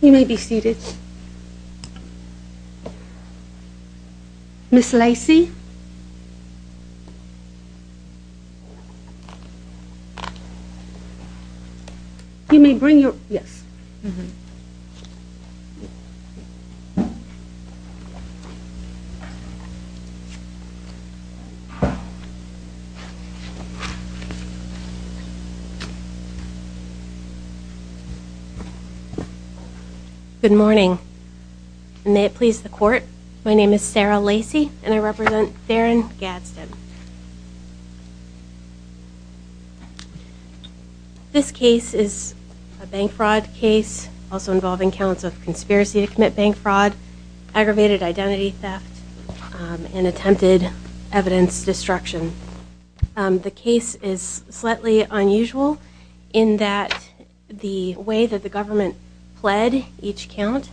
You may be seated. Ms. Lacey, you may bring your... yes. Good morning. May it please the court, my name is Sarah Lacey and I represent Daren Gadsden. This case is a bank fraud case, also involving counts of conspiracy to commit bank fraud, aggravated identity theft, and attempted evidence destruction. The case is slightly unusual in that the way that the government pled each count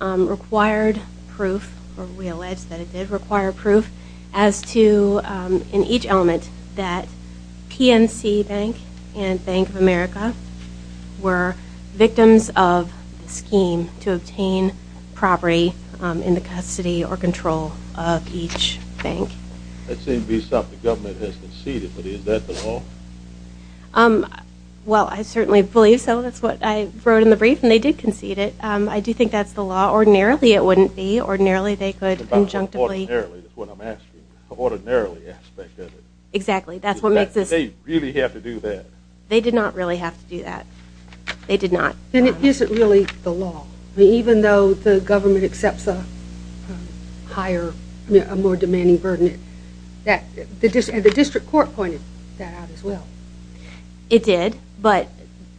required proof, or we allege that it did require proof, as to, in each element, that PNC Bank and Bank of America were victims of the scheme to obtain property in the custody or control of each bank. It seems to be something the government has conceded, but is that the law? Well, I certainly believe so, that's what I wrote in the brief, and they did concede it. I do think that's the law, ordinarily it wouldn't be, ordinarily they could injunctively... Ordinarily, that's what I'm asking, ordinarily aspect of it. Exactly, that's what makes this... They really have to do that. They did not really have to do that, they did not. Then it isn't really the law, even though the government accepts a higher, more demanding burden. The district court pointed that out as well. It did, but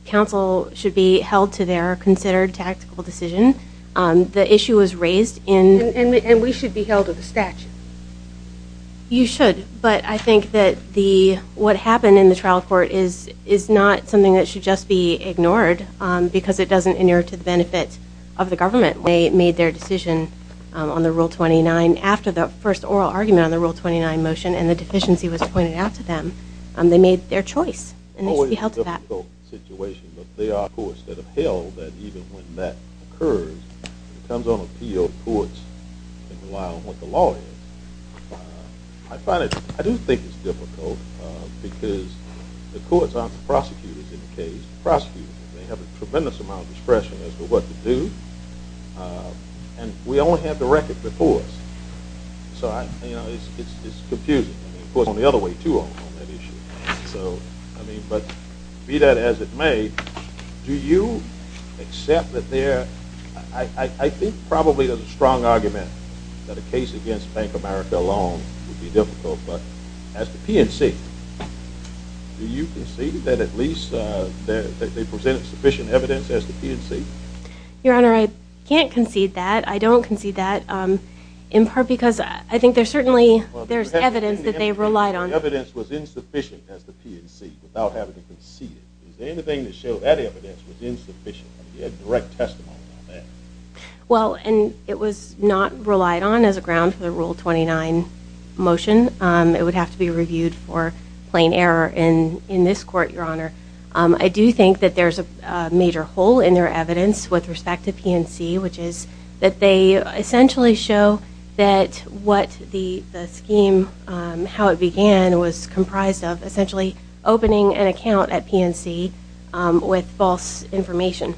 counsel should be held to their considered tactical decision. The issue was raised in... And we should be held to the statute. You should, but I think that what happened in the trial court is not something that should just be ignored because it doesn't inert to the benefit of the government. They made their decision on the Rule 29 after the first oral argument on the Rule 29 motion and the deficiency was pointed out to them. They made their choice, and they should be held to that. It's always a difficult situation, but there are courts that have held that even when that occurs, when it comes on appeal, courts can rely on what the law is. I find it, I do think it's difficult because the courts aren't the prosecutors in the case. The prosecutors may have a tremendous amount of discretion as to what to do, and we only have the record before us, so it's confusing. Of course, on the other way, too, on that issue. So, I mean, but be that as it may, do you accept that there... I think probably there's a strong argument that a case against Bank of America alone would be difficult, but as to PNC, do you concede that at least they presented sufficient evidence as to PNC? Your Honor, I can't concede that. I don't concede that in part because I think there's certainly, there's evidence that they relied on. The evidence was insufficient as to PNC without having to concede it. Is there anything to show that evidence was insufficient? You had direct testimony on that. Well, and it was not relied on as a ground for the Rule 29 motion. It would have to be reviewed for plain error in this court, Your Honor. I do think that there's a major hole in their evidence with respect to PNC, which is that they essentially show that what the scheme, how it began, was comprised of essentially opening an account at PNC with false information.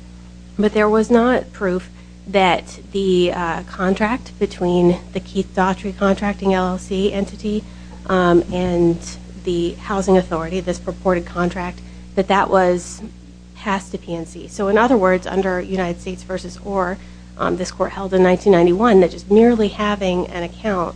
But there was not proof that the contract between the Keith Daughtry contracting LLC entity and the housing authority, this purported contract, that that was passed to PNC. So in other words, under United States v. Orr, this court held in 1991, that just merely having an account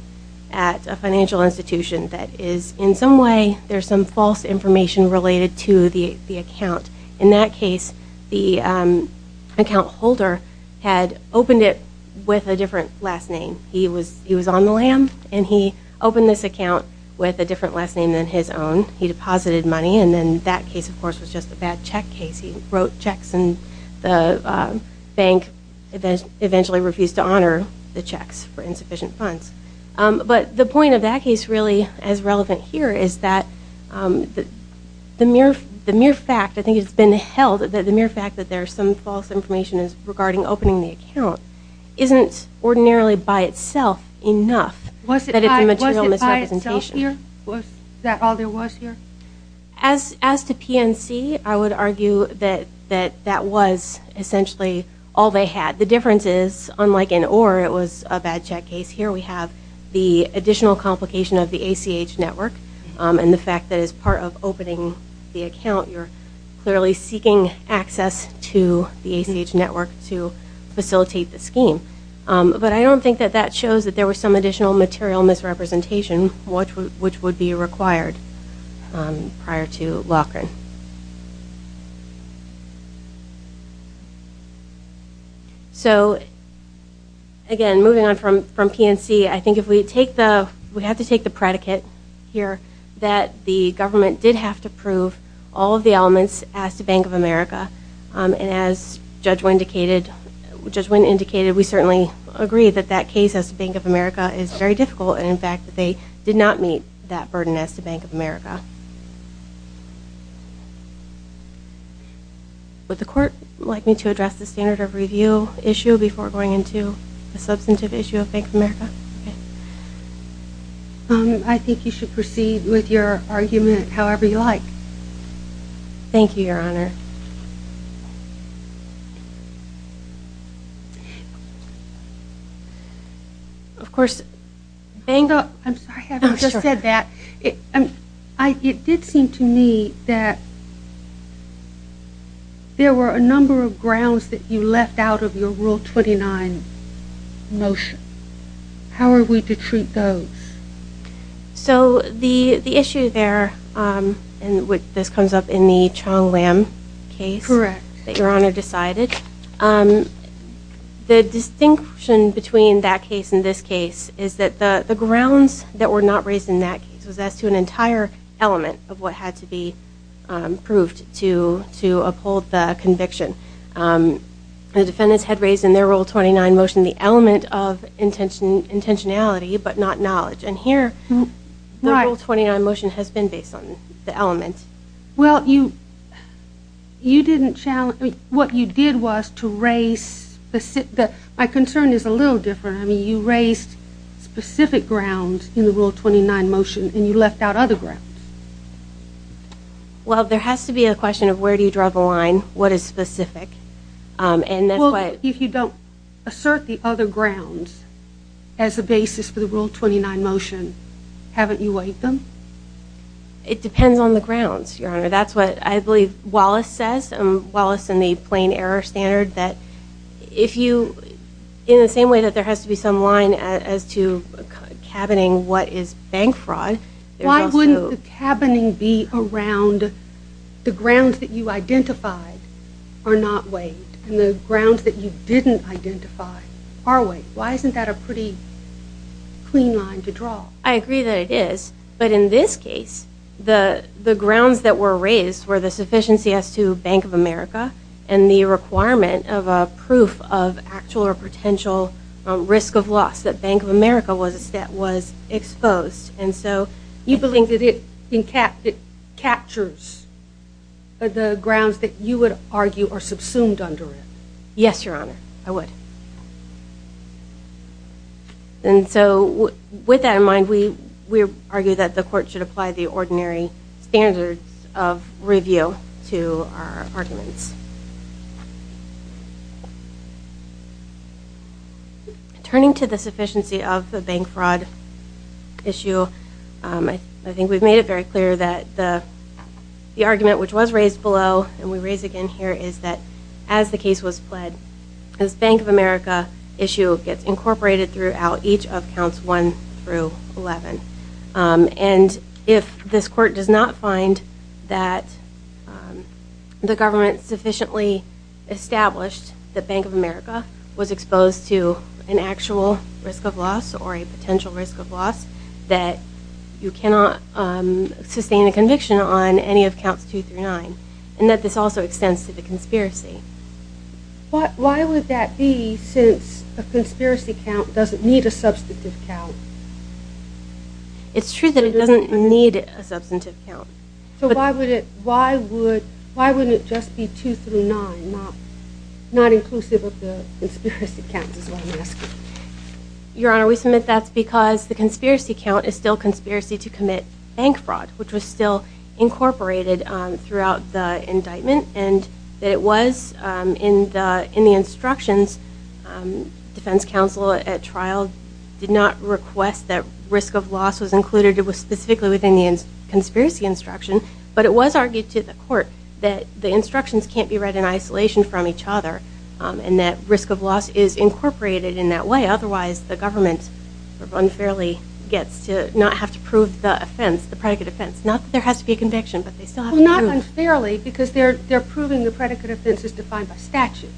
at a financial institution that is in some way, there's some false information related to the account. In that case, the account holder had opened it with a different last name. He was on the lam, and he opened this account with a different last name than his own. He deposited money, and then that case, of course, was just a bad check case. He wrote checks, and the bank eventually refused to honor the checks for insufficient funds. But the point of that case really as relevant here is that the mere fact, I think it's been held, that the mere fact that there's some false information regarding opening the account isn't ordinarily by itself enough that it's a material misrepresentation. Was it by itself here? Was that all there was here? As to PNC, I would argue that that was essentially all they had. The difference is, unlike in Orr, it was a bad check case. Here we have the additional complication of the ACH network, and the fact that as part of opening the account, you're clearly seeking access to the ACH network to facilitate the scheme. But I don't think that that shows that there was some additional material misrepresentation, which would be required prior to Loughran. So, again, moving on from PNC, I think if we take the, we have to take the predicate here that the government did have to prove all of the elements as to Bank of America, and as Judge Winn indicated, we certainly agree that that case as to Bank of America is very difficult, and in fact that they did not meet that burden as to Bank of America. Would the Court like me to address the standard of review issue before going into the substantive issue of Bank of America? I think you should proceed with your argument however you like. Thank you, Your Honor. Thank you, Your Honor. Of course, I'm sorry I haven't just said that. It did seem to me that there were a number of grounds that you left out of your Rule 29 motion. How are we to treat those? So, the issue there, and this comes up in the Chong Lam case that Your Honor decided, the distinction between that case and this case is that the grounds that were not raised in that case was as to an entire element of what had to be proved to uphold the conviction. The defendants had raised in their Rule 29 motion the element of intentionality, but not knowledge. And here, the Rule 29 motion has been based on the element. Well, you didn't challenge, what you did was to raise, my concern is a little different. I mean, you raised specific grounds in the Rule 29 motion, and you left out other grounds. Well, there has to be a question of where do you draw the line, what is specific. Well, if you don't assert the other grounds as a basis for the Rule 29 motion, haven't you weighed them? It depends on the grounds, Your Honor. That's what I believe Wallace says, Wallace and the Plain Error Standard, that if you, in the same way that there has to be some line as to cabining what is bank fraud, why wouldn't the cabining be around the grounds that you identified are not weighed, and the grounds that you didn't identify are weighed. Why isn't that a pretty clean line to draw? I agree that it is. But in this case, the grounds that were raised were the sufficiency as to Bank of America and the requirement of a proof of actual or potential risk of loss that Bank of America was exposed. And so, you believe that it captures the grounds that you would argue are subsumed under it. Yes, Your Honor, I would. And so, with that in mind, we argue that the Court should apply the ordinary standards of review to our arguments. Turning to the sufficiency of the bank fraud issue, I think we've made it very clear that the argument which was raised below, and we raise again here, is that as the case was fled, this Bank of America issue gets incorporated throughout each of counts 1 through 11. And if this Court does not find that the government sufficiently established that Bank of America was exposed to an actual risk of loss or a potential risk of loss, that you cannot sustain a conviction on any of counts 2 through 9, and that this also extends to the conspiracy. Why would that be, since a conspiracy count doesn't need a substantive count? It's true that it doesn't need a substantive count. So, why wouldn't it just be 2 through 9, not inclusive of the conspiracy counts, is what I'm asking. Your Honor, we submit that's because the conspiracy count is still conspiracy to commit bank fraud, which was still incorporated throughout the indictment, and that it was in the instructions. Defense counsel at trial did not request that risk of loss was included. It was specifically within the conspiracy instruction. But it was argued to the Court that the instructions can't be read in isolation from each other, and that risk of loss is incorporated in that way. Otherwise, the government unfairly gets to not have to prove the offense, the predicate offense. Not that there has to be a conviction, but they still have to prove it. But unfairly, because they're proving the predicate offense is defined by statute.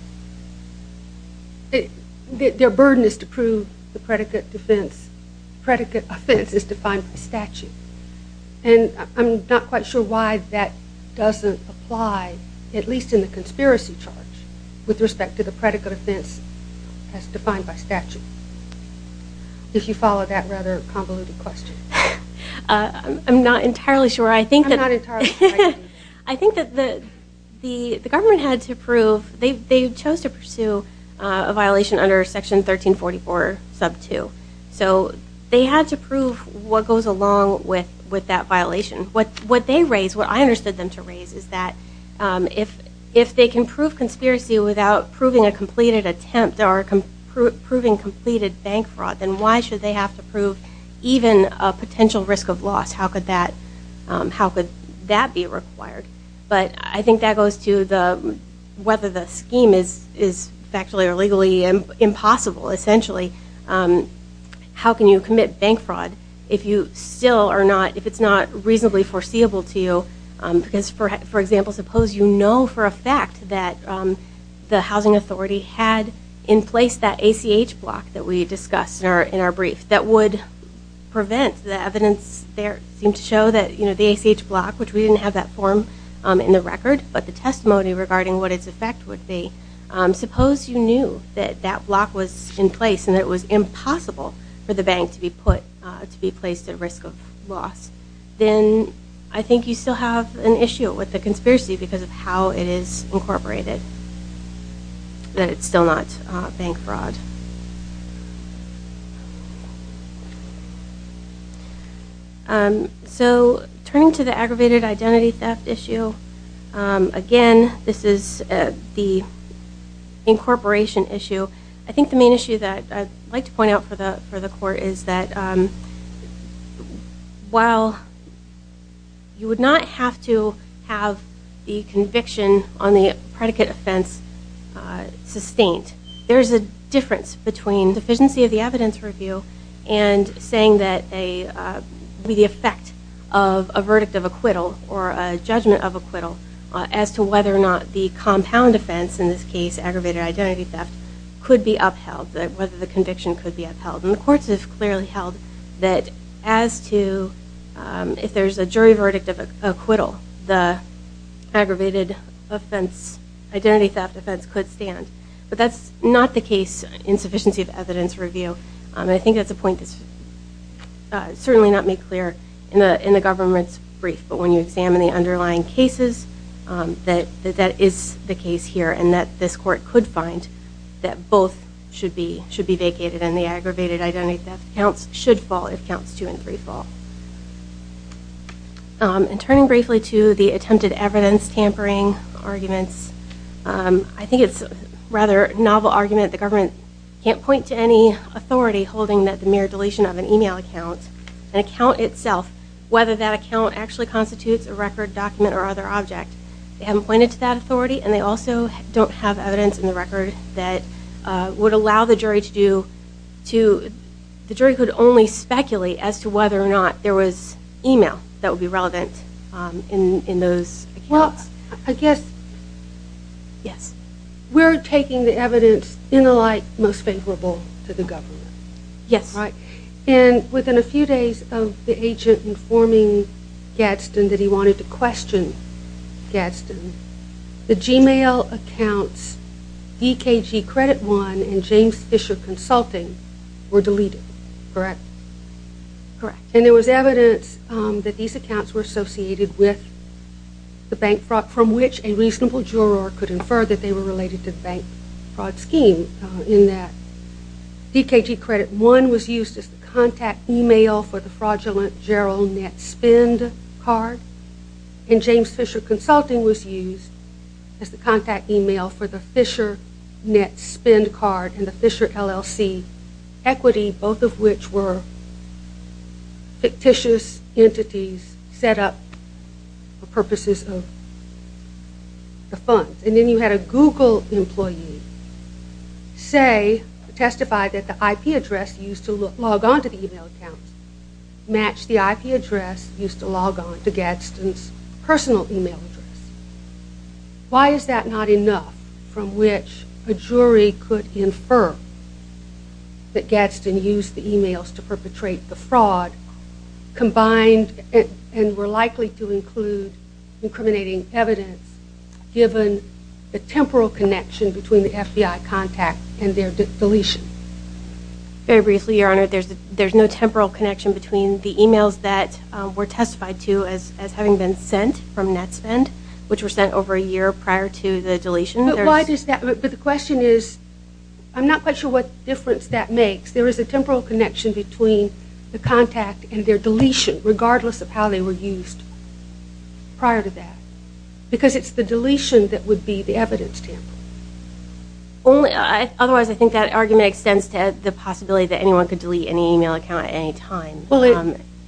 Their burden is to prove the predicate offense is defined by statute. And I'm not quite sure why that doesn't apply, at least in the conspiracy charge, with respect to the predicate offense as defined by statute. Did you follow that rather convoluted question? I'm not entirely sure. I'm not entirely sure either. I think that the government had to prove they chose to pursue a violation under Section 1344, sub 2. So they had to prove what goes along with that violation. What they raised, what I understood them to raise, is that if they can prove conspiracy without proving a completed attempt or proving completed bank fraud, then why should they have to prove even a potential risk of loss? How could that be required? But I think that goes to whether the scheme is factually or legally impossible, essentially. How can you commit bank fraud if it's not reasonably foreseeable to you? Because, for example, suppose you know for a fact that the housing authority had in place that ACH block that we discussed in our brief that would prevent the evidence there seemed to show that the ACH block, which we didn't have that form in the record, but the testimony regarding what its effect would be, suppose you knew that that block was in place and that it was impossible for the bank to be placed at risk of loss, then I think you still have an issue with the conspiracy because of how it is incorporated, that it's still not bank fraud. So, turning to the aggravated identity theft issue, again, this is the incorporation issue. I think the main issue that I'd like to point out for the court is that, while you would not have to have the conviction on the predicate offense sustained, there's a difference between deficiency of the evidence review and saying that the effect of a verdict of acquittal or a judgment of acquittal as to whether or not the compound offense, in this case, aggravated identity theft, could be upheld, whether the conviction could be upheld. And the courts have clearly held that as to if there's a jury verdict of acquittal, the aggravated identity theft offense could stand. But that's not the case in sufficiency of evidence review. I think that's a point that's certainly not made clear in the government's brief. But when you examine the underlying cases, that is the case here, and that this court could find that both should be vacated, and the aggravated identity theft counts should fall if counts two and three fall. And turning briefly to the attempted evidence tampering arguments, I think it's a rather novel argument. The government can't point to any authority holding that the mere deletion of an email account, an account itself, whether that account actually constitutes a record, document, or other object, they haven't pointed to that authority, and they also don't have evidence in the record that would allow the jury to do, the jury could only speculate as to whether or not there was email that would be relevant in those accounts. Well, I guess we're taking the evidence in the light most favorable to the government. Yes. And within a few days of the agent informing Gadsden that he wanted to question Gadsden, the Gmail accounts DKG Credit One and James Fisher Consulting were deleted. Correct. And there was evidence that these accounts were associated with the bank fraud from which a reasonable juror could infer that they were related to the bank fraud scheme. And in that, DKG Credit One was used as the contact email for the fraudulent Gerald Netspend card, and James Fisher Consulting was used as the contact email for the Fisher Netspend card and the Fisher LLC equity, both of which were fictitious entities set up for purposes of the funds. And then you had a Google employee say, testify that the IP address used to log on to the email account matched the IP address used to log on to Gadsden's personal email address. Why is that not enough from which a jury could infer that Gadsden used the emails to perpetrate the fraud combined and were likely to include incriminating evidence given the temporal connection between the FBI contact and their deletion? Very briefly, Your Honor. There's no temporal connection between the emails that were testified to as having been sent from Netspend, which were sent over a year prior to the deletion. But why is that? But the question is, I'm not quite sure what difference that makes. There is a temporal connection between the contact and their deletion, regardless of how they were used prior to that, because it's the deletion that would be the evidence tamper. Otherwise, I think that argument extends to the possibility that anyone could delete an email account at any time,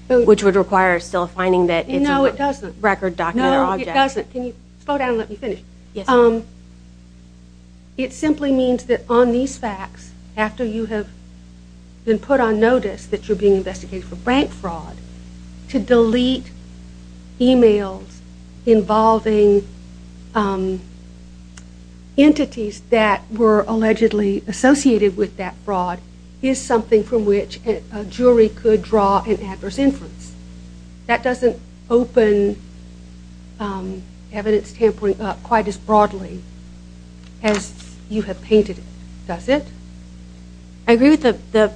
which would require still finding that it's a record document or object. No, it doesn't. Can you slow down and let me finish? Yes. It simply means that on these facts, after you have been put on notice that you're being investigated for bank fraud, to delete emails involving entities that were allegedly associated with that fraud is something from which a jury could draw an adverse inference. That doesn't open evidence tampering up quite as broadly as you have painted it, does it? I agree with the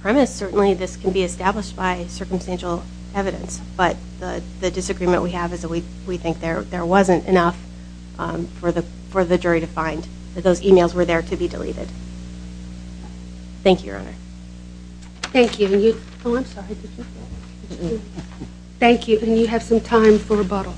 premise. Certainly, this can be established by circumstantial evidence. But the disagreement we have is that we think there wasn't enough for the jury to find, that those emails were there to be deleted. Thank you, Your Honor. Thank you. Oh, I'm sorry. Thank you. And you have some time for rebuttal.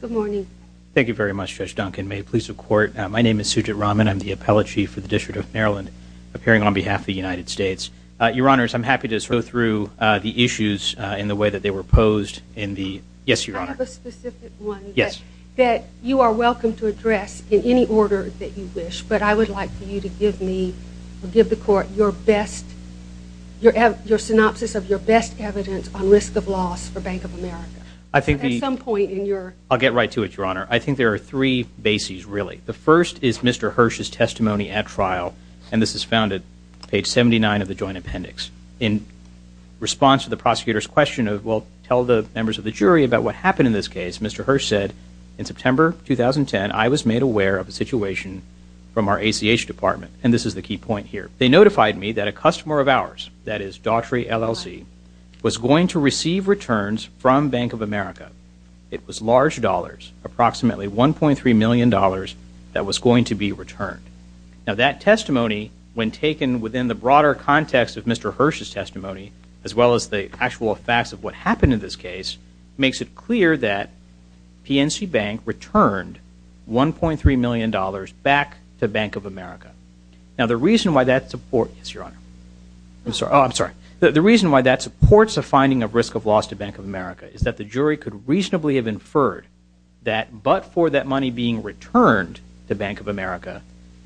Good morning. Thank you very much, Judge Duncan. May it please the Court, my name is Sujit Raman. I'm the Appellate Chief for the District of Maryland, appearing on behalf of the United States. Your Honors, I'm happy to sort of go through the issues in the way that they were posed. Yes, Your Honor. I have a specific one. Yes. That you are welcome to address in any order that you wish, but I would like for you to give me or give the Court your best, your synopsis of your best evidence on risk of loss for Bank of America. I think the... At some point in your... I'll get right to it, Your Honor. I think there are three bases, really. The first is Mr. Hirsch's testimony at trial, and this is found at page 79 of the joint appendix. In response to the prosecutor's question of, well, tell the members of the jury about what happened in this case, Mr. Hirsch said, in September 2010, I was made aware of a situation from our ACH department, and this is the key point here. They notified me that a customer of ours, that is, Daughtry LLC, was going to receive returns from Bank of America. It was large dollars, approximately $1.3 million, that was going to be returned. Now, that testimony, when taken within the broader context of Mr. Hirsch's testimony, as well as the actual facts of what happened in this case, makes it clear that PNC Bank returned $1.3 million back to Bank of America. Now, the reason why that support... Yes, Your Honor. I'm sorry. Oh, I'm sorry. The reason why that supports a finding of risk of loss to Bank of America is that the jury could reasonably have inferred that, but for that money being returned to Bank of America,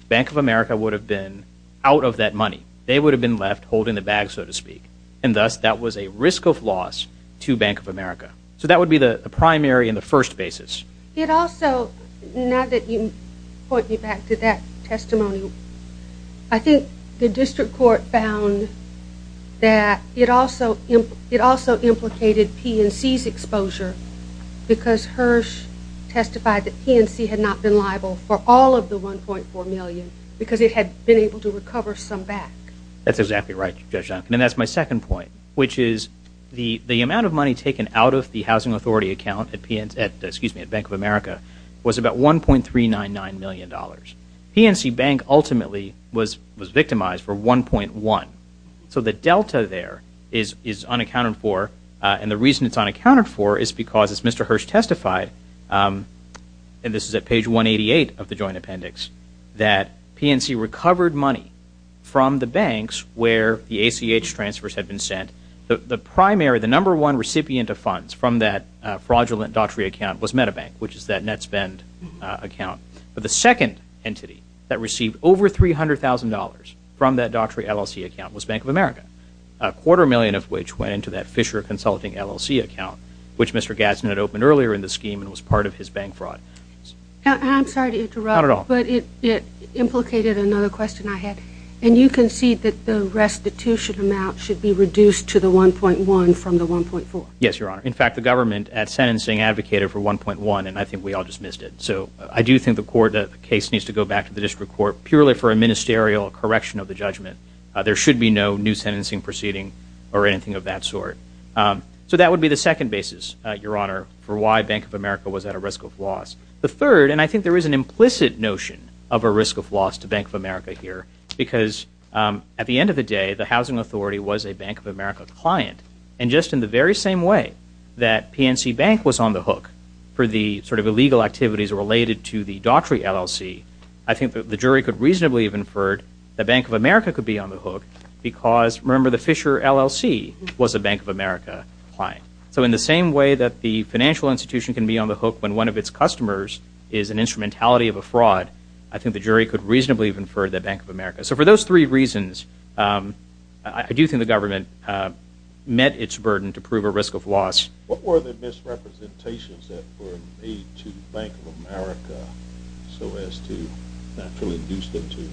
Bank of America would have been out of that money. They would have been left holding the bag, so to speak, and thus that was a risk of loss to Bank of America. So that would be the primary and the first basis. It also, now that you point me back to that testimony, I think the district court found that it also implicated PNC's exposure because Hirsch testified that PNC had not been liable for all of the $1.4 million because it had been able to recover some back. That's exactly right, Judge Duncan, and that's my second point, which is the amount of money taken out of the Housing Authority account at Bank of America was about $1.399 million. PNC Bank ultimately was victimized for $1.1 million. So the delta there is unaccounted for, and the reason it's unaccounted for is because, as Mr. Hirsch testified, and this is at page 188 of the joint appendix, that PNC recovered money from the banks where the ACH transfers had been sent. The primary, the number one recipient of funds from that fraudulent Daughtry account was MetaBank, which is that net spend account. But the second entity that received over $300,000 from that Daughtry LLC account was Bank of America, a quarter million of which went into that Fisher Consulting LLC account, which Mr. Gadsden had opened earlier in the scheme and was part of his bank fraud. I'm sorry to interrupt. Not at all. But it implicated another question I had, and you concede that the restitution amount should be reduced to the $1.1 from the $1.4? Yes, Your Honor. In fact, the government at sentencing advocated for $1.1, and I think we all just missed it. So I do think the case needs to go back to the District Court purely for a ministerial correction of the judgment. There should be no new sentencing proceeding or anything of that sort. So that would be the second basis, Your Honor, for why Bank of America was at a risk of loss. The third, and I think there is an implicit notion of a risk of loss to Bank of America here, because at the end of the day, the housing authority was a Bank of America client, and just in the very same way that PNC Bank was on the hook for the sort of illegal activities related to the Daughtry LLC, I think that the jury could reasonably have inferred that Bank of America could be on the hook because, remember, the Fisher LLC was a Bank of America client. So in the same way that the financial institution can be on the hook when one of its customers is an instrumentality of a fraud, I think the jury could reasonably have inferred that Bank of America. So for those three reasons, I do think the government met its burden to prove a risk of loss. What were the misrepresentations that were made to Bank of America so as to naturally induce them to do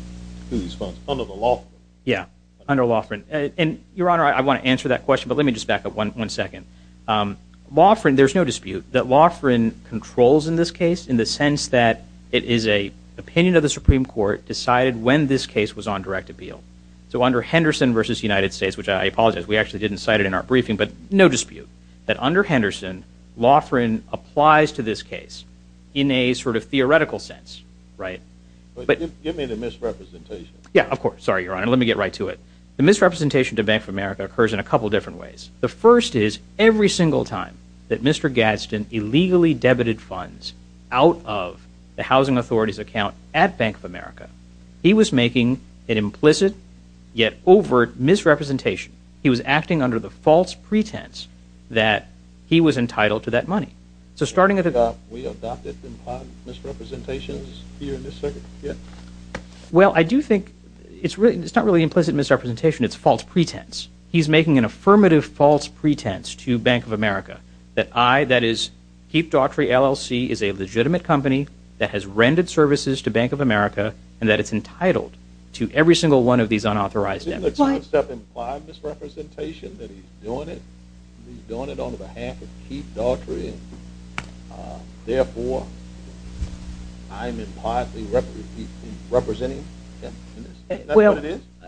these funds under the law? Yeah, under Lofgren. And, Your Honor, I want to answer that question, but let me just back up one second. Lofgren, there's no dispute that Lofgren controls in this case in the sense that it is an opinion of the Supreme Court decided when this case was on direct appeal. So under Henderson v. United States, which I apologize, we actually didn't cite it in our briefing, but no dispute that under Henderson, Lofgren applies to this case in a sort of theoretical sense, right? Give me the misrepresentation. Yeah, of course. Sorry, Your Honor. Let me get right to it. The misrepresentation to Bank of America occurs in a couple different ways. The first is every single time that Mr. Gadsden illegally debited funds out of the housing authority's account at Bank of America, he was making an implicit yet overt misrepresentation. He was acting under the false pretense that he was entitled to that money. So starting at the top, we adopted misrepresentations here in this circuit. Well, I do think it's not really implicit misrepresentation, it's false pretense. He's making an affirmative false pretense to Bank of America that I, that is, Keep Daughtry LLC is a legitimate company that has rendered services to Bank of America and that it's entitled to every single one of these unauthorized debits. Doesn't the concept imply misrepresentation that he's doing it? He's doing it on behalf of Keep Daughtry. Therefore, I'm in part representing him in this. Well,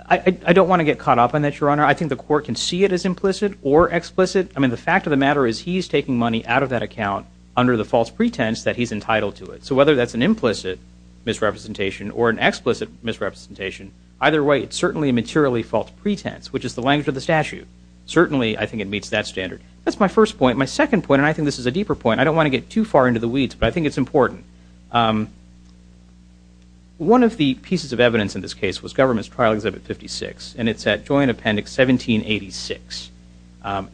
I don't want to get caught up on that, Your Honor. I think the court can see it as implicit or explicit. I mean, the fact of the matter is he's taking money out of that account under the false pretense that he's entitled to it. So whether that's an implicit misrepresentation or an explicit misrepresentation, either way, it's certainly a materially false pretense, which is the language of the statute. Certainly, I think it meets that standard. That's my first point. My second point, and I think this is a deeper point, I don't want to get too far into the weeds, but I think it's important. One of the pieces of evidence in this case was Government's Trial Exhibit 56, and it's at Joint Appendix 1786.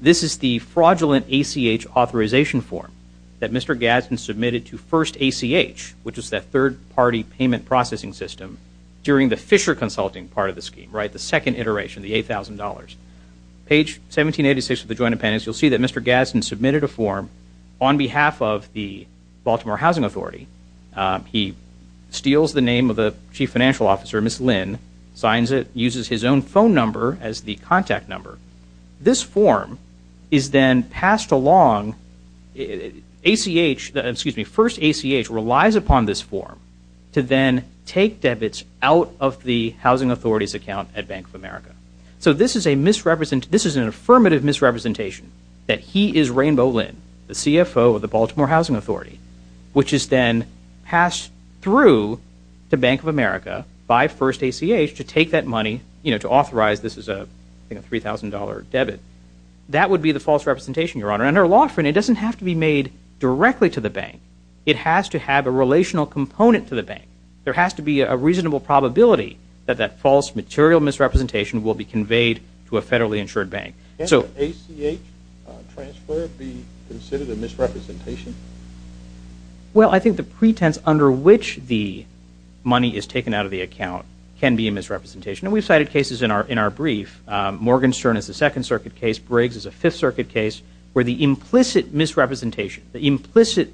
This is the fraudulent ACH authorization form that Mr. Gadsden submitted to First ACH, which is that third-party payment processing system during the Fisher Consulting part of the scheme, the second iteration, the $8,000. Page 1786 of the Joint Appendix, you'll see that Mr. Gadsden submitted a form on behalf of the Baltimore Housing Authority. He steals the name of the chief financial officer, Ms. Lynn, signs it, uses his own phone number as the contact number. This form is then passed along. First ACH relies upon this form to then take debits out of the Housing Authority's account at Bank of America. So this is an affirmative misrepresentation that he is Rainbow Lynn, the CFO of the Baltimore Housing Authority, which is then passed through to Bank of America by First ACH to take that money, to authorize this is a $3,000 debit. That would be the false representation, Your Honor. Under law, it doesn't have to be made directly to the bank. It has to have a relational component to the bank. There has to be a reasonable probability that that false material misrepresentation will be conveyed to a federally insured bank. So ACH transfer be considered a misrepresentation? Well, I think the pretense under which the money is taken out of the account can be a misrepresentation, and we've cited cases in our brief. Morgenstern is a Second Circuit case. Briggs is a Fifth Circuit case where the implicit misrepresentation, the implicit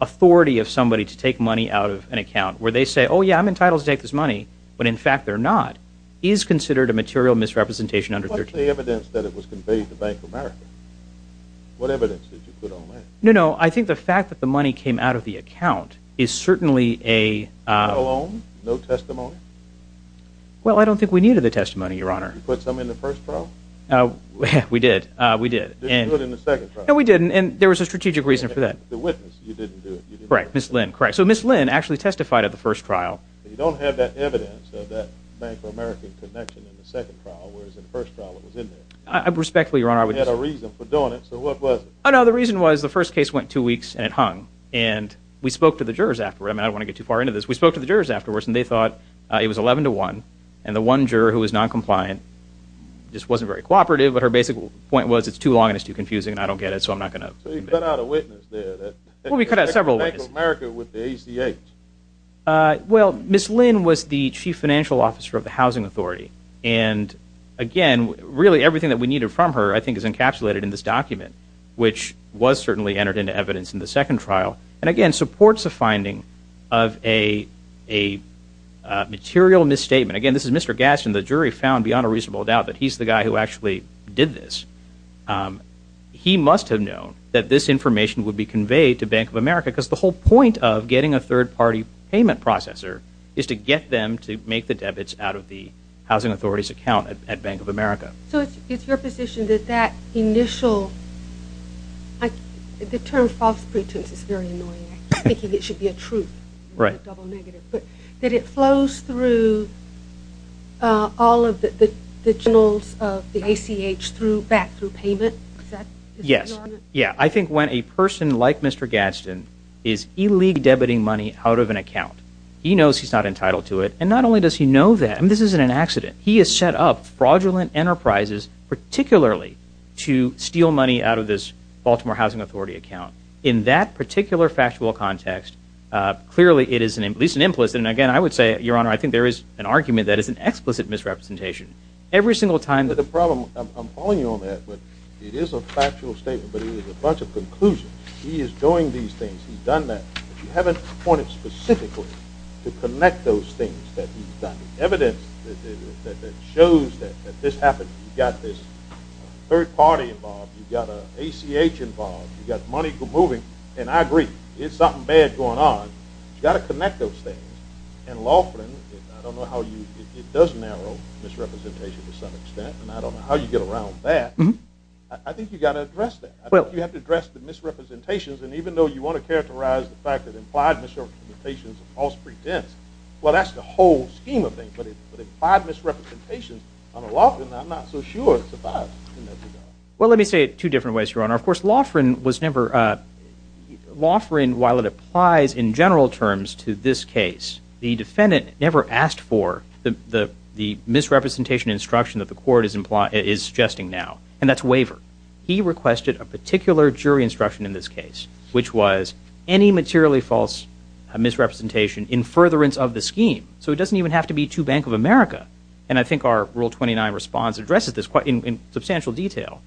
authority of somebody to take money out of an account where they say, oh, yeah, I'm entitled to take this money, but in fact they're not, is considered a material misrepresentation under 13. What's the evidence that it was conveyed to Bank of America? What evidence did you put on that? No, no, I think the fact that the money came out of the account is certainly a- No testimony? Well, I don't think we needed the testimony, Your Honor. You put some in the first trial? We did, we did. You didn't do it in the second trial? No, we didn't, and there was a strategic reason for that. The witness, you didn't do it. Correct, Ms. Lynn, correct. So Ms. Lynn actually testified at the first trial. But you don't have that evidence of that Bank of America connection in the second trial, whereas in the first trial it was in there. Respectfully, Your Honor, I would just- You had a reason for doing it, so what was it? Oh, no, the reason was the first case went two weeks and it hung, and we spoke to the jurors after, and I don't want to get too far into this. We spoke to the jurors afterwards, and they thought it was 11 to 1, and the one juror who was noncompliant just wasn't very cooperative, but her basic point was it's too long and it's too confusing, and I don't get it, so I'm not going to- So you cut out a witness there that- Well, we cut out several witnesses. Bank of America with the ACA. Well, Ms. Lynn was the chief financial officer of the Housing Authority, and again, really everything that we needed from her I think is encapsulated in this document, which was certainly entered into evidence in the second trial, and again supports a finding of a material misstatement. Again, this is Mr. Gaston. The jury found beyond a reasonable doubt that he's the guy who actually did this. He must have known that this information would be conveyed to Bank of America because the whole point of getting a third-party payment processor is to get them to make the debits out of the Housing Authority's account at Bank of America. So it's your position that that initial-the term false pretense is very annoying. I think it should be a truth, not a double negative, but that it flows through all of the journals of the ACH back through payment? Yes. I think when a person like Mr. Gaston is illegally debiting money out of an account, he knows he's not entitled to it, and not only does he know that, and this isn't an accident, he has set up fraudulent enterprises, particularly to steal money out of this Baltimore Housing Authority account. In that particular factual context, clearly it is at least an implicit, and again, I would say, Your Honor, I think there is an argument that it's an explicit misrepresentation. Every single time that- But the problem-I'm following you on that, but it is a factual statement, but it is a bunch of conclusions. He is doing these things. He's done that, but you haven't pointed specifically to connect those things that he's done. The evidence that shows that this happened, you've got this third party involved, you've got ACH involved, you've got money moving, and I agree, there's something bad going on, you've got to connect those things, and lawfully, I don't know how you-it does narrow misrepresentation to some extent, and I don't know how you get around that. I think you've got to address that. I think you have to address the misrepresentations, and even though you want to characterize the fact that implied misrepresentations are false pretense, well, that's the whole scheme of things, but if implied misrepresentations on a law firm, I'm not so sure it survives. Well, let me say it two different ways, Your Honor. Of course, law firm was never-law firm, while it applies in general terms to this case, the defendant never asked for the misrepresentation instruction that the court is suggesting now, and that's waiver. He requested a particular jury instruction in this case, which was any materially false misrepresentation in furtherance of the scheme, so it doesn't even have to be to Bank of America, and I think our Rule 29 response addresses this in substantial detail.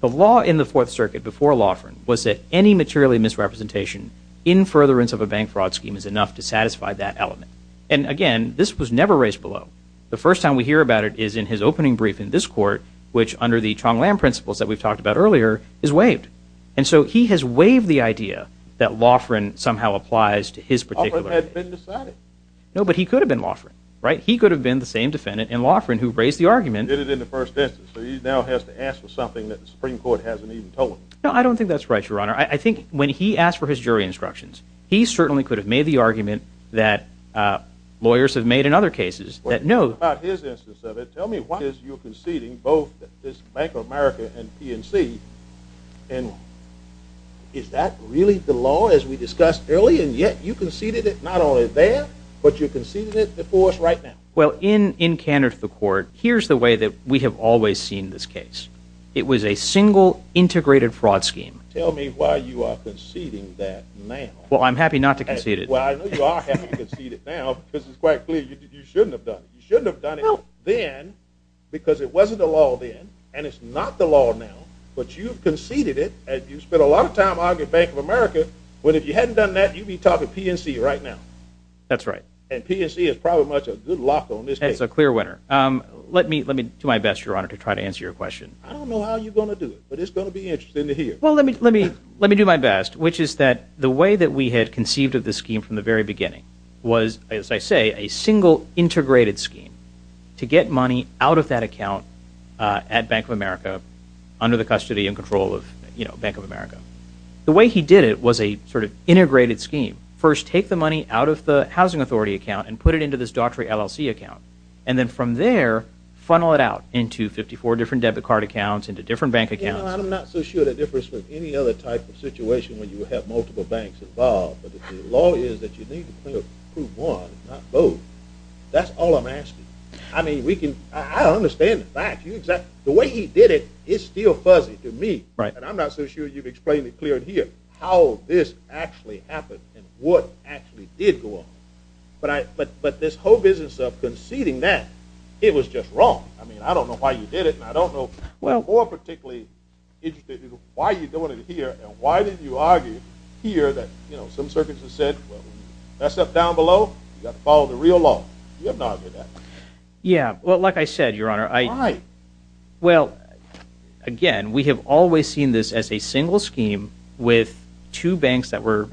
The law in the Fourth Circuit before law firm was that any materially misrepresentation in furtherance of a bank fraud scheme is enough to satisfy that element, and again, this was never raised below. The first time we hear about it is in his opening brief in this court, which under the Chong Lam principles that we've talked about earlier is waived, and so he has waived the idea that law firm somehow applies to his particular case. Law firm had been decided. No, but he could have been law firm, right? He could have been the same defendant in law firm who raised the argument. He did it in the first instance, so he now has to ask for something that the Supreme Court hasn't even told him. No, I don't think that's right, Your Honor. I think when he asked for his jury instructions, he certainly could have made the argument that lawyers have made in other cases that no. Tell me why is your conceding both this Bank of America and PNC, and is that really the law as we discussed earlier, and yet you conceded it not only there, but you conceded it before us right now? Well, in candor to the court, here's the way that we have always seen this case. It was a single integrated fraud scheme. Tell me why you are conceding that now. Well, I'm happy not to concede it. Well, I know you are happy to concede it now because it's quite clear you shouldn't have done it. You shouldn't have done it then because it wasn't the law then, and it's not the law now, but you've conceded it, and you've spent a lot of time arguing Bank of America, but if you hadn't done that, you'd be talking PNC right now. That's right. And PNC is probably much a good lock on this case. That's a clear winner. Let me do my best, Your Honor, to try to answer your question. I don't know how you're going to do it, but it's going to be interesting to hear. Well, let me do my best, which is that the way that we had conceived of this scheme from the very beginning was, as I say, a single integrated scheme to get money out of that account at Bank of America under the custody and control of, you know, Bank of America. The way he did it was a sort of integrated scheme. First, take the money out of the Housing Authority account and put it into this Daughtry LLC account, and then from there funnel it out into 54 different debit card accounts, into different bank accounts. You know, I'm not so sure that it differs from any other type of situation when you have multiple banks involved, but the law is that you need to prove one and not both. That's all I'm asking. I mean, I understand the fact. The way he did it is still fuzzy to me. And I'm not so sure you've explained it clearly here, how this actually happened and what actually did go on. But this whole business of conceding that, it was just wrong. I mean, I don't know why you did it, and I don't know more particularly why you're doing it here and why did you argue here that, you know, some circuits have said, well, that stuff down below, you've got to follow the real law. You haven't argued that. Yeah. Well, like I said, Your Honor, I... Why? Well, again, we have always seen this as a single scheme with two banks that were,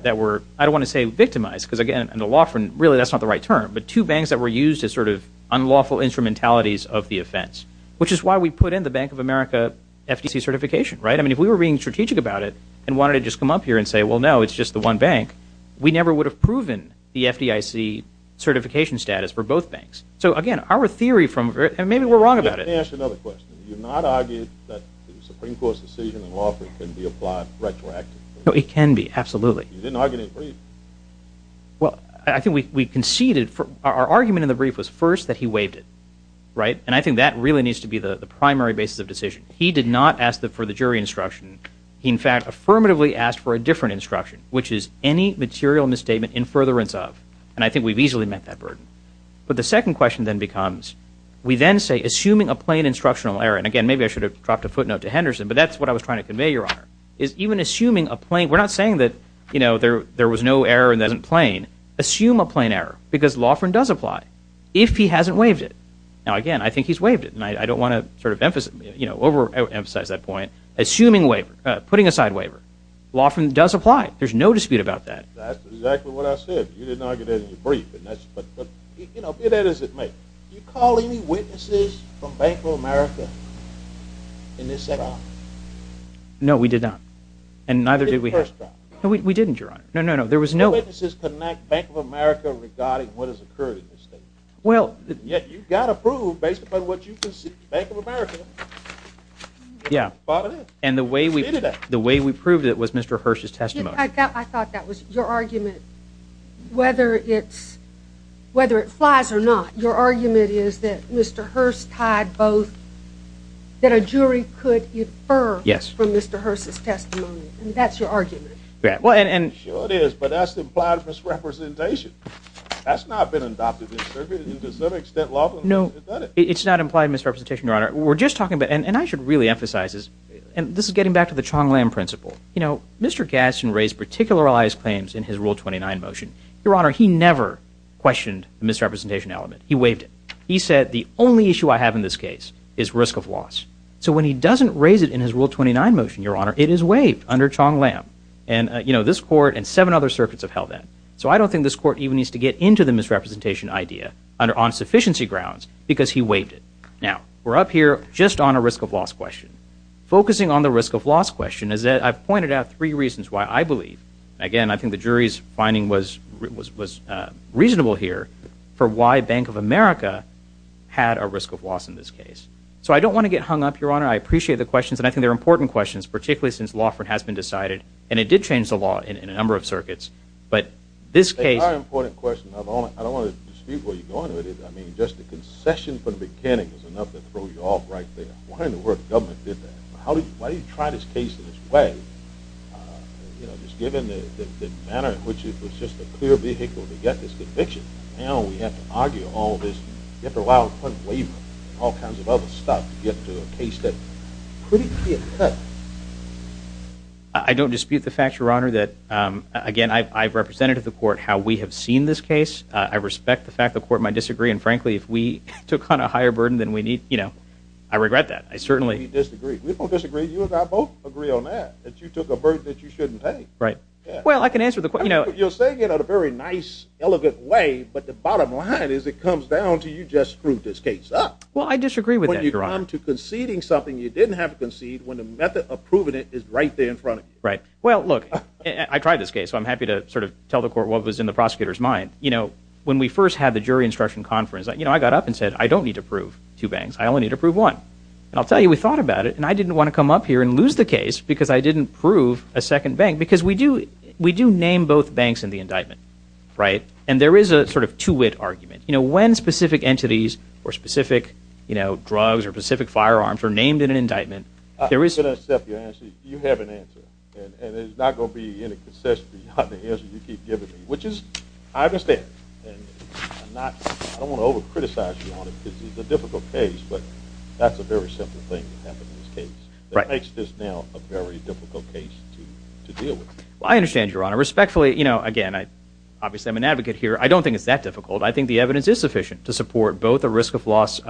I don't want to say victimized because, again, in the law firm, really that's not the right term, but two banks that were used as sort of unlawful instrumentalities of the offense, which is why we put in the Bank of America FDC certification, right? I mean, if we were being strategic about it and wanted to just come up here and say, well, no, it's just the one bank, we never would have proven the FDIC certification status for both banks. So, again, our theory from... And maybe we're wrong about it. Let me ask another question. You've not argued that the Supreme Court's decision in law can be applied retroactively? No, it can be, absolutely. You didn't argue it in the brief? Well, I think we conceded... Our argument in the brief was first that he waived it, right? And I think that really needs to be the primary basis of decision. He did not ask for the jury instruction. He, in fact, affirmatively asked for a different instruction, which is any material misstatement in furtherance of. And I think we've easily met that burden. But the second question then becomes, we then say, assuming a plain instructional error, and, again, maybe I should have dropped a footnote to Henderson, but that's what I was trying to convey, Your Honor, is even assuming a plain... We're not saying that, you know, there was no error and that it wasn't plain. Assume a plain error because law firm does apply if he hasn't waived it. Now, again, I think he's waived it, and I don't want to sort of over-emphasize that point. Assuming a waiver, putting aside a waiver, law firm does apply. There's no dispute about that. That's exactly what I said. You didn't argue that in your brief. But, you know, be that as it may, do you call any witnesses from Bank of America in this setup? No, we did not. And neither did we have... We did the first time. No, we didn't, Your Honor. No, no, no. There was no... Do witnesses connect Bank of America regarding what has occurred in this state? Well... Yeah, you've got to prove based upon what you can see. Bank of America. Yeah. And the way we proved it was Mr. Hirsch's testimony. I thought that was your argument. Whether it's... Whether it flies or not, your argument is that Mr. Hirsch tied both... That a jury could infer from Mr. Hirsch's testimony. And that's your argument. Yeah, well, and... Sure it is, but that's implied misrepresentation. That's not been adopted in this circuit. To some extent, law... No, it's not implied misrepresentation, Your Honor. We're just talking about... And I should really emphasize this. And this is getting back to the Chong-Lam principle. You know, Mr. Gadsden raised particularized claims in his Rule 29 motion. Your Honor, he never questioned the misrepresentation element. He waived it. He said, the only issue I have in this case is risk of loss. So when he doesn't raise it in his Rule 29 motion, Your Honor, it is waived under Chong-Lam. And, you know, this court and seven other circuits have held that. So I don't think this court even needs to get into the misrepresentation idea on sufficiency grounds, because he waived it. Now, we're up here just on a risk of loss question. Focusing on the risk of loss question is that I've pointed out three reasons why I believe, again, I think the jury's finding was reasonable here, for why Bank of America had a risk of loss in this case. So I don't want to get hung up, Your Honor. I appreciate the questions, and I think they're important questions, particularly since law has been decided, and it did change the law in a number of circuits. But this case... It's a very important question. I don't want to dispute where you're going with it. I mean, just a concession from the mechanic is enough to throw you off right there. Why in the world did the government do that? Why do you try this case in this way? You know, just given the manner in which it was just a clear vehicle to get this conviction, now we have to argue all this, you have to allow a point of waiver and all kinds of other stuff to get to a case that could be a threat. I don't dispute the fact, Your Honor, that, again, I've represented to the court how we have seen this case. I respect the fact the court might disagree, and frankly, if we took on a higher burden than we need, you know, I regret that. I certainly disagree. We both disagree. You and I both agree on that, that you took a burden that you shouldn't pay. Right. Well, I can answer the question. You know, you're saying it in a very nice, elegant way, but the bottom line is it comes down to you just screwed this case up. Well, I disagree with that, Your Honor. When you come to conceding something you didn't have to concede when the method of proving it is right there in front of you. Right. Well, look, I tried this case, so I'm happy to sort of tell the court what was in the prosecutor's mind. You know, when we first had the jury instruction conference, you know, I got up and said, I don't need to prove two banks. I only need to prove one. And I'll tell you, we thought about it, and I didn't want to come up here and lose the case because I didn't prove a second bank, because we do name both banks in the indictment, right? And there is a sort of two-wit argument. You know, when specific entities or specific, you know, drugs or specific firearms are named in an indictment, there is a... I'm going to accept your answer. You have an answer, and it is not going to be in a concession beyond the answer you keep giving me, which is I understand. And I don't want to over-criticize you on it because it's a difficult case, but that's a very simple thing that happened in this case. It makes this now a very difficult case to deal with. Well, I understand, Your Honor. Respectfully, you know, again, obviously I'm an advocate here. I don't think it's that difficult. I think the evidence is sufficient to support both a risk of loss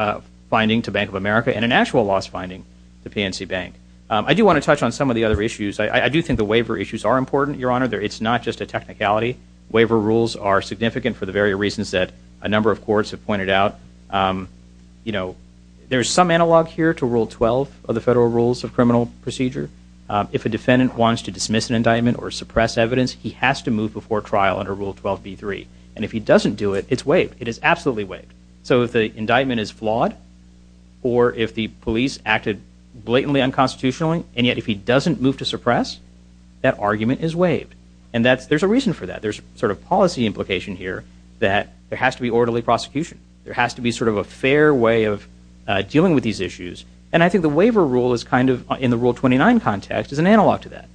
finding to Bank of America and an actual loss finding to PNC Bank. I do want to touch on some of the other issues. I do think the waiver issues are important, Your Honor. It's not just a technicality. Waiver rules are significant for the very reasons that a number of courts have pointed out. You know, there's some analog here to Rule 12 of the Federal Rules of Criminal Procedure. If a defendant wants to dismiss an indictment or suppress evidence, he has to move before trial under Rule 12b3. And if he doesn't do it, it's waived. It is absolutely waived. So if the indictment is flawed or if the police acted blatantly unconstitutionally and yet if he doesn't move to suppress, that argument is waived. And there's a reason for that. There's sort of policy implication here that there has to be orderly prosecution. There has to be sort of a fair way of dealing with these issues. And I think the waiver rule is kind of, in the Rule 29 context, is an analog to that.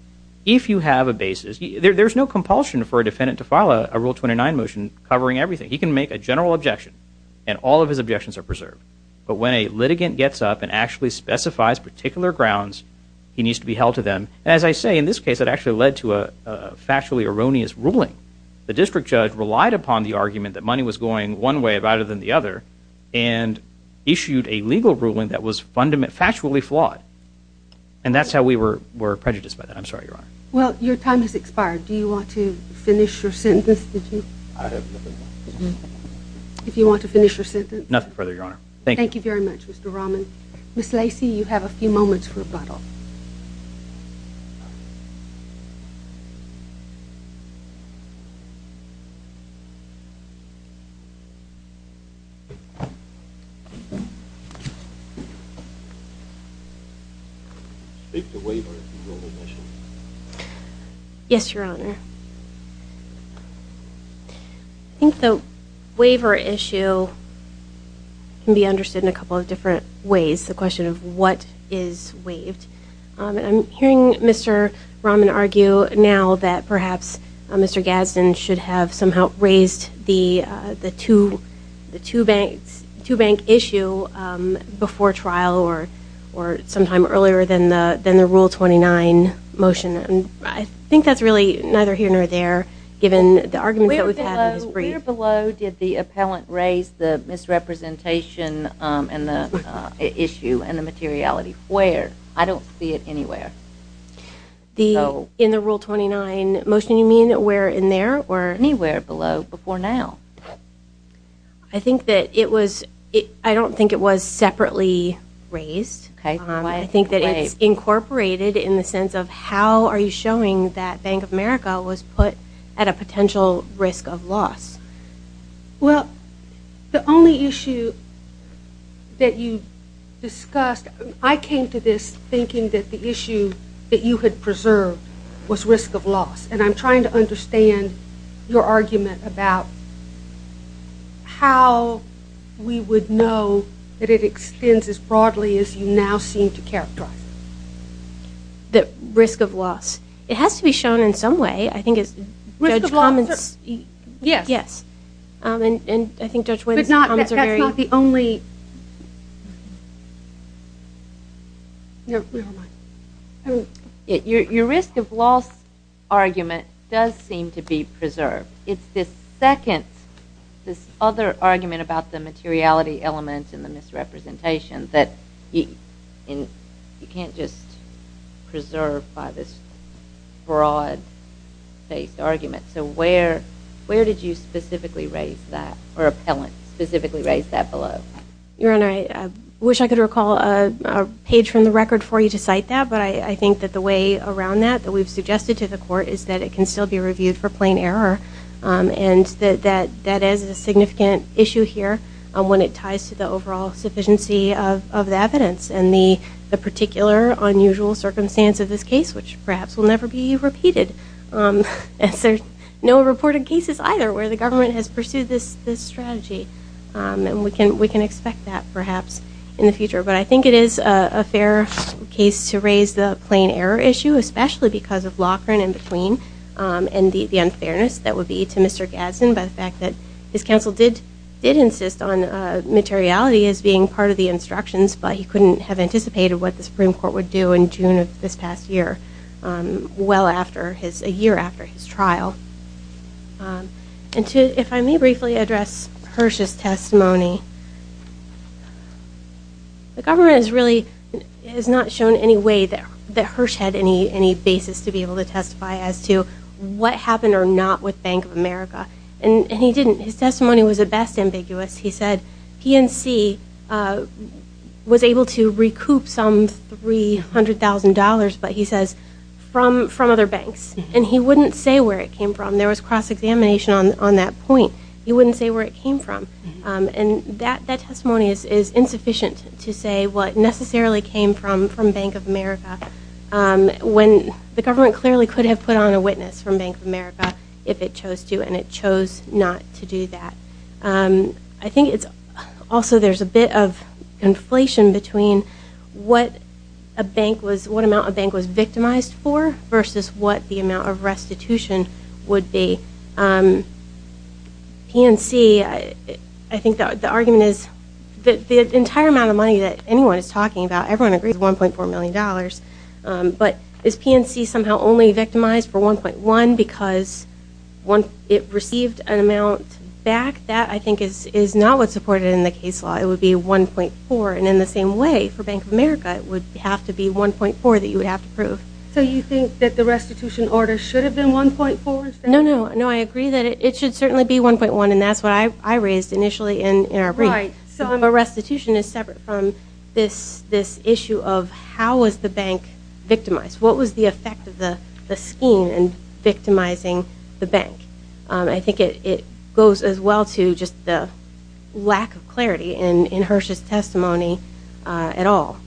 If you have a basis, there's no compulsion for a defendant to file a Rule 29 motion covering everything. He can make a general objection, and all of his objections are preserved. But when a litigant gets up and actually specifies particular grounds, he needs to be held to them. And as I say, in this case, it actually led to a factually erroneous ruling. The district judge relied upon the argument that money was going one way better than the other and issued a legal ruling that was factually flawed. And that's how we were prejudiced by that. I'm sorry, Your Honor. Well, your time has expired. Do you want to finish your sentence? I have nothing more to say. If you want to finish your sentence. Nothing further, Your Honor. Thank you. Thank you very much, Mr. Rahman. Ms. Lacey, you have a few moments for rebuttal. Speak to waiver if you will, Ms. Nishin. Yes, Your Honor. I think the waiver issue can be understood in a couple of different ways, the question of what is waived. I'm hearing Mr. Rahman argue now that perhaps Mr. Gadsden should have somehow raised the two-bank issue before trial or sometime earlier than the Rule 29 motion. I think that's really neither here nor there given the argument that we've had in his brief. Where below did the appellant raise the misrepresentation and the issue and the materiality? Where? I don't see it anywhere. In the Rule 29 motion, you mean where in there or? Anywhere below before now. I think that it was, I don't think it was separately raised. Okay. I think that it's incorporated in the sense of how are you showing that Bank of America was put at a potential risk of loss. Well, the only issue that you discussed, I came to this thinking that the issue that you had preserved was risk of loss. And I'm trying to understand your argument about how we would know that it would now seem to characterize it. The risk of loss. It has to be shown in some way. I think it's Judge Commons. Yes. Yes. And I think Judge Wynn's comments are very. But that's not the only. Your risk of loss argument does seem to be preserved. It's this second, this other argument about the materiality elements and the misrepresentation that you can't just preserve by this broad-based argument. So where did you specifically raise that or appellant specifically raise that below? Your Honor, I wish I could recall a page from the record for you to cite that, but I think that the way around that that we've suggested to the court is that it can still be reviewed for plain error. And that is a significant issue here when it ties to the overall sufficiency of the evidence and the particular unusual circumstance of this case, which perhaps will never be repeated. There's no reported cases either where the government has pursued this strategy. And we can expect that perhaps in the future. But I think it is a fair case to raise the plain error issue, especially because of Loughran in between and the unfairness that would be to Mr. Gadsden by the fact that his counsel did insist on materiality as being part of the instructions, but he couldn't have anticipated what the Supreme Court would do in June of this past year, well after his, a year after his trial. And to, if I may briefly address Hersh's testimony, the government has really, has not shown any way that Hersh had any basis to be able to testify as to what happened or not with Bank of America. And he didn't. His testimony was at best ambiguous. He said PNC was able to recoup some $300,000, but he says from other banks. And he wouldn't say where it came from. There was cross-examination on that point. He wouldn't say where it came from. And that testimony is insufficient to say what necessarily came from Bank of America when the government clearly could have put on a witness from Bank of America if it chose to, and it chose not to do that. I think it's also there's a bit of inflation between what a bank was, what amount a bank was victimized for versus what the amount of restitution would be. PNC, I think the argument is that the entire amount of money that anyone is talking about, everyone agrees $1.4 million, but is PNC somehow only victimized for 1.1 because it received an amount back? That I think is not what's supported in the case law. It would be 1.4. And in the same way for Bank of America, it would have to be 1.4 that you would have to prove. So you think that the restitution order should have been 1.4 instead? No, I agree that it should certainly be 1.1, and that's what I raised initially in our brief. Right. So a restitution is separate from this issue of how was the bank victimized? What was the effect of the scheme in victimizing the bank? I think it goes as well to just the lack of clarity in Hersh's testimony at all.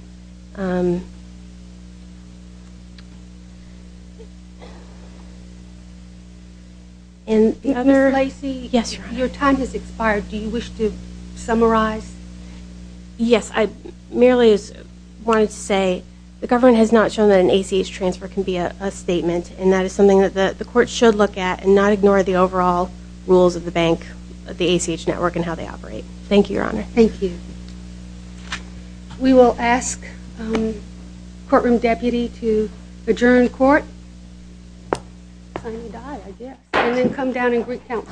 Ms. Lacey? Yes, Your Honor. Your time has expired. Do you wish to summarize? Yes. I merely wanted to say the government has not shown that an ACH transfer can be a statement, and that is something that the court should look at and not ignore the overall rules of the bank, of the ACH network, and how they operate. Thank you, Your Honor. Thank you. We will ask the courtroom deputy to adjourn court. Sign and die, I guess. And then come down and recount.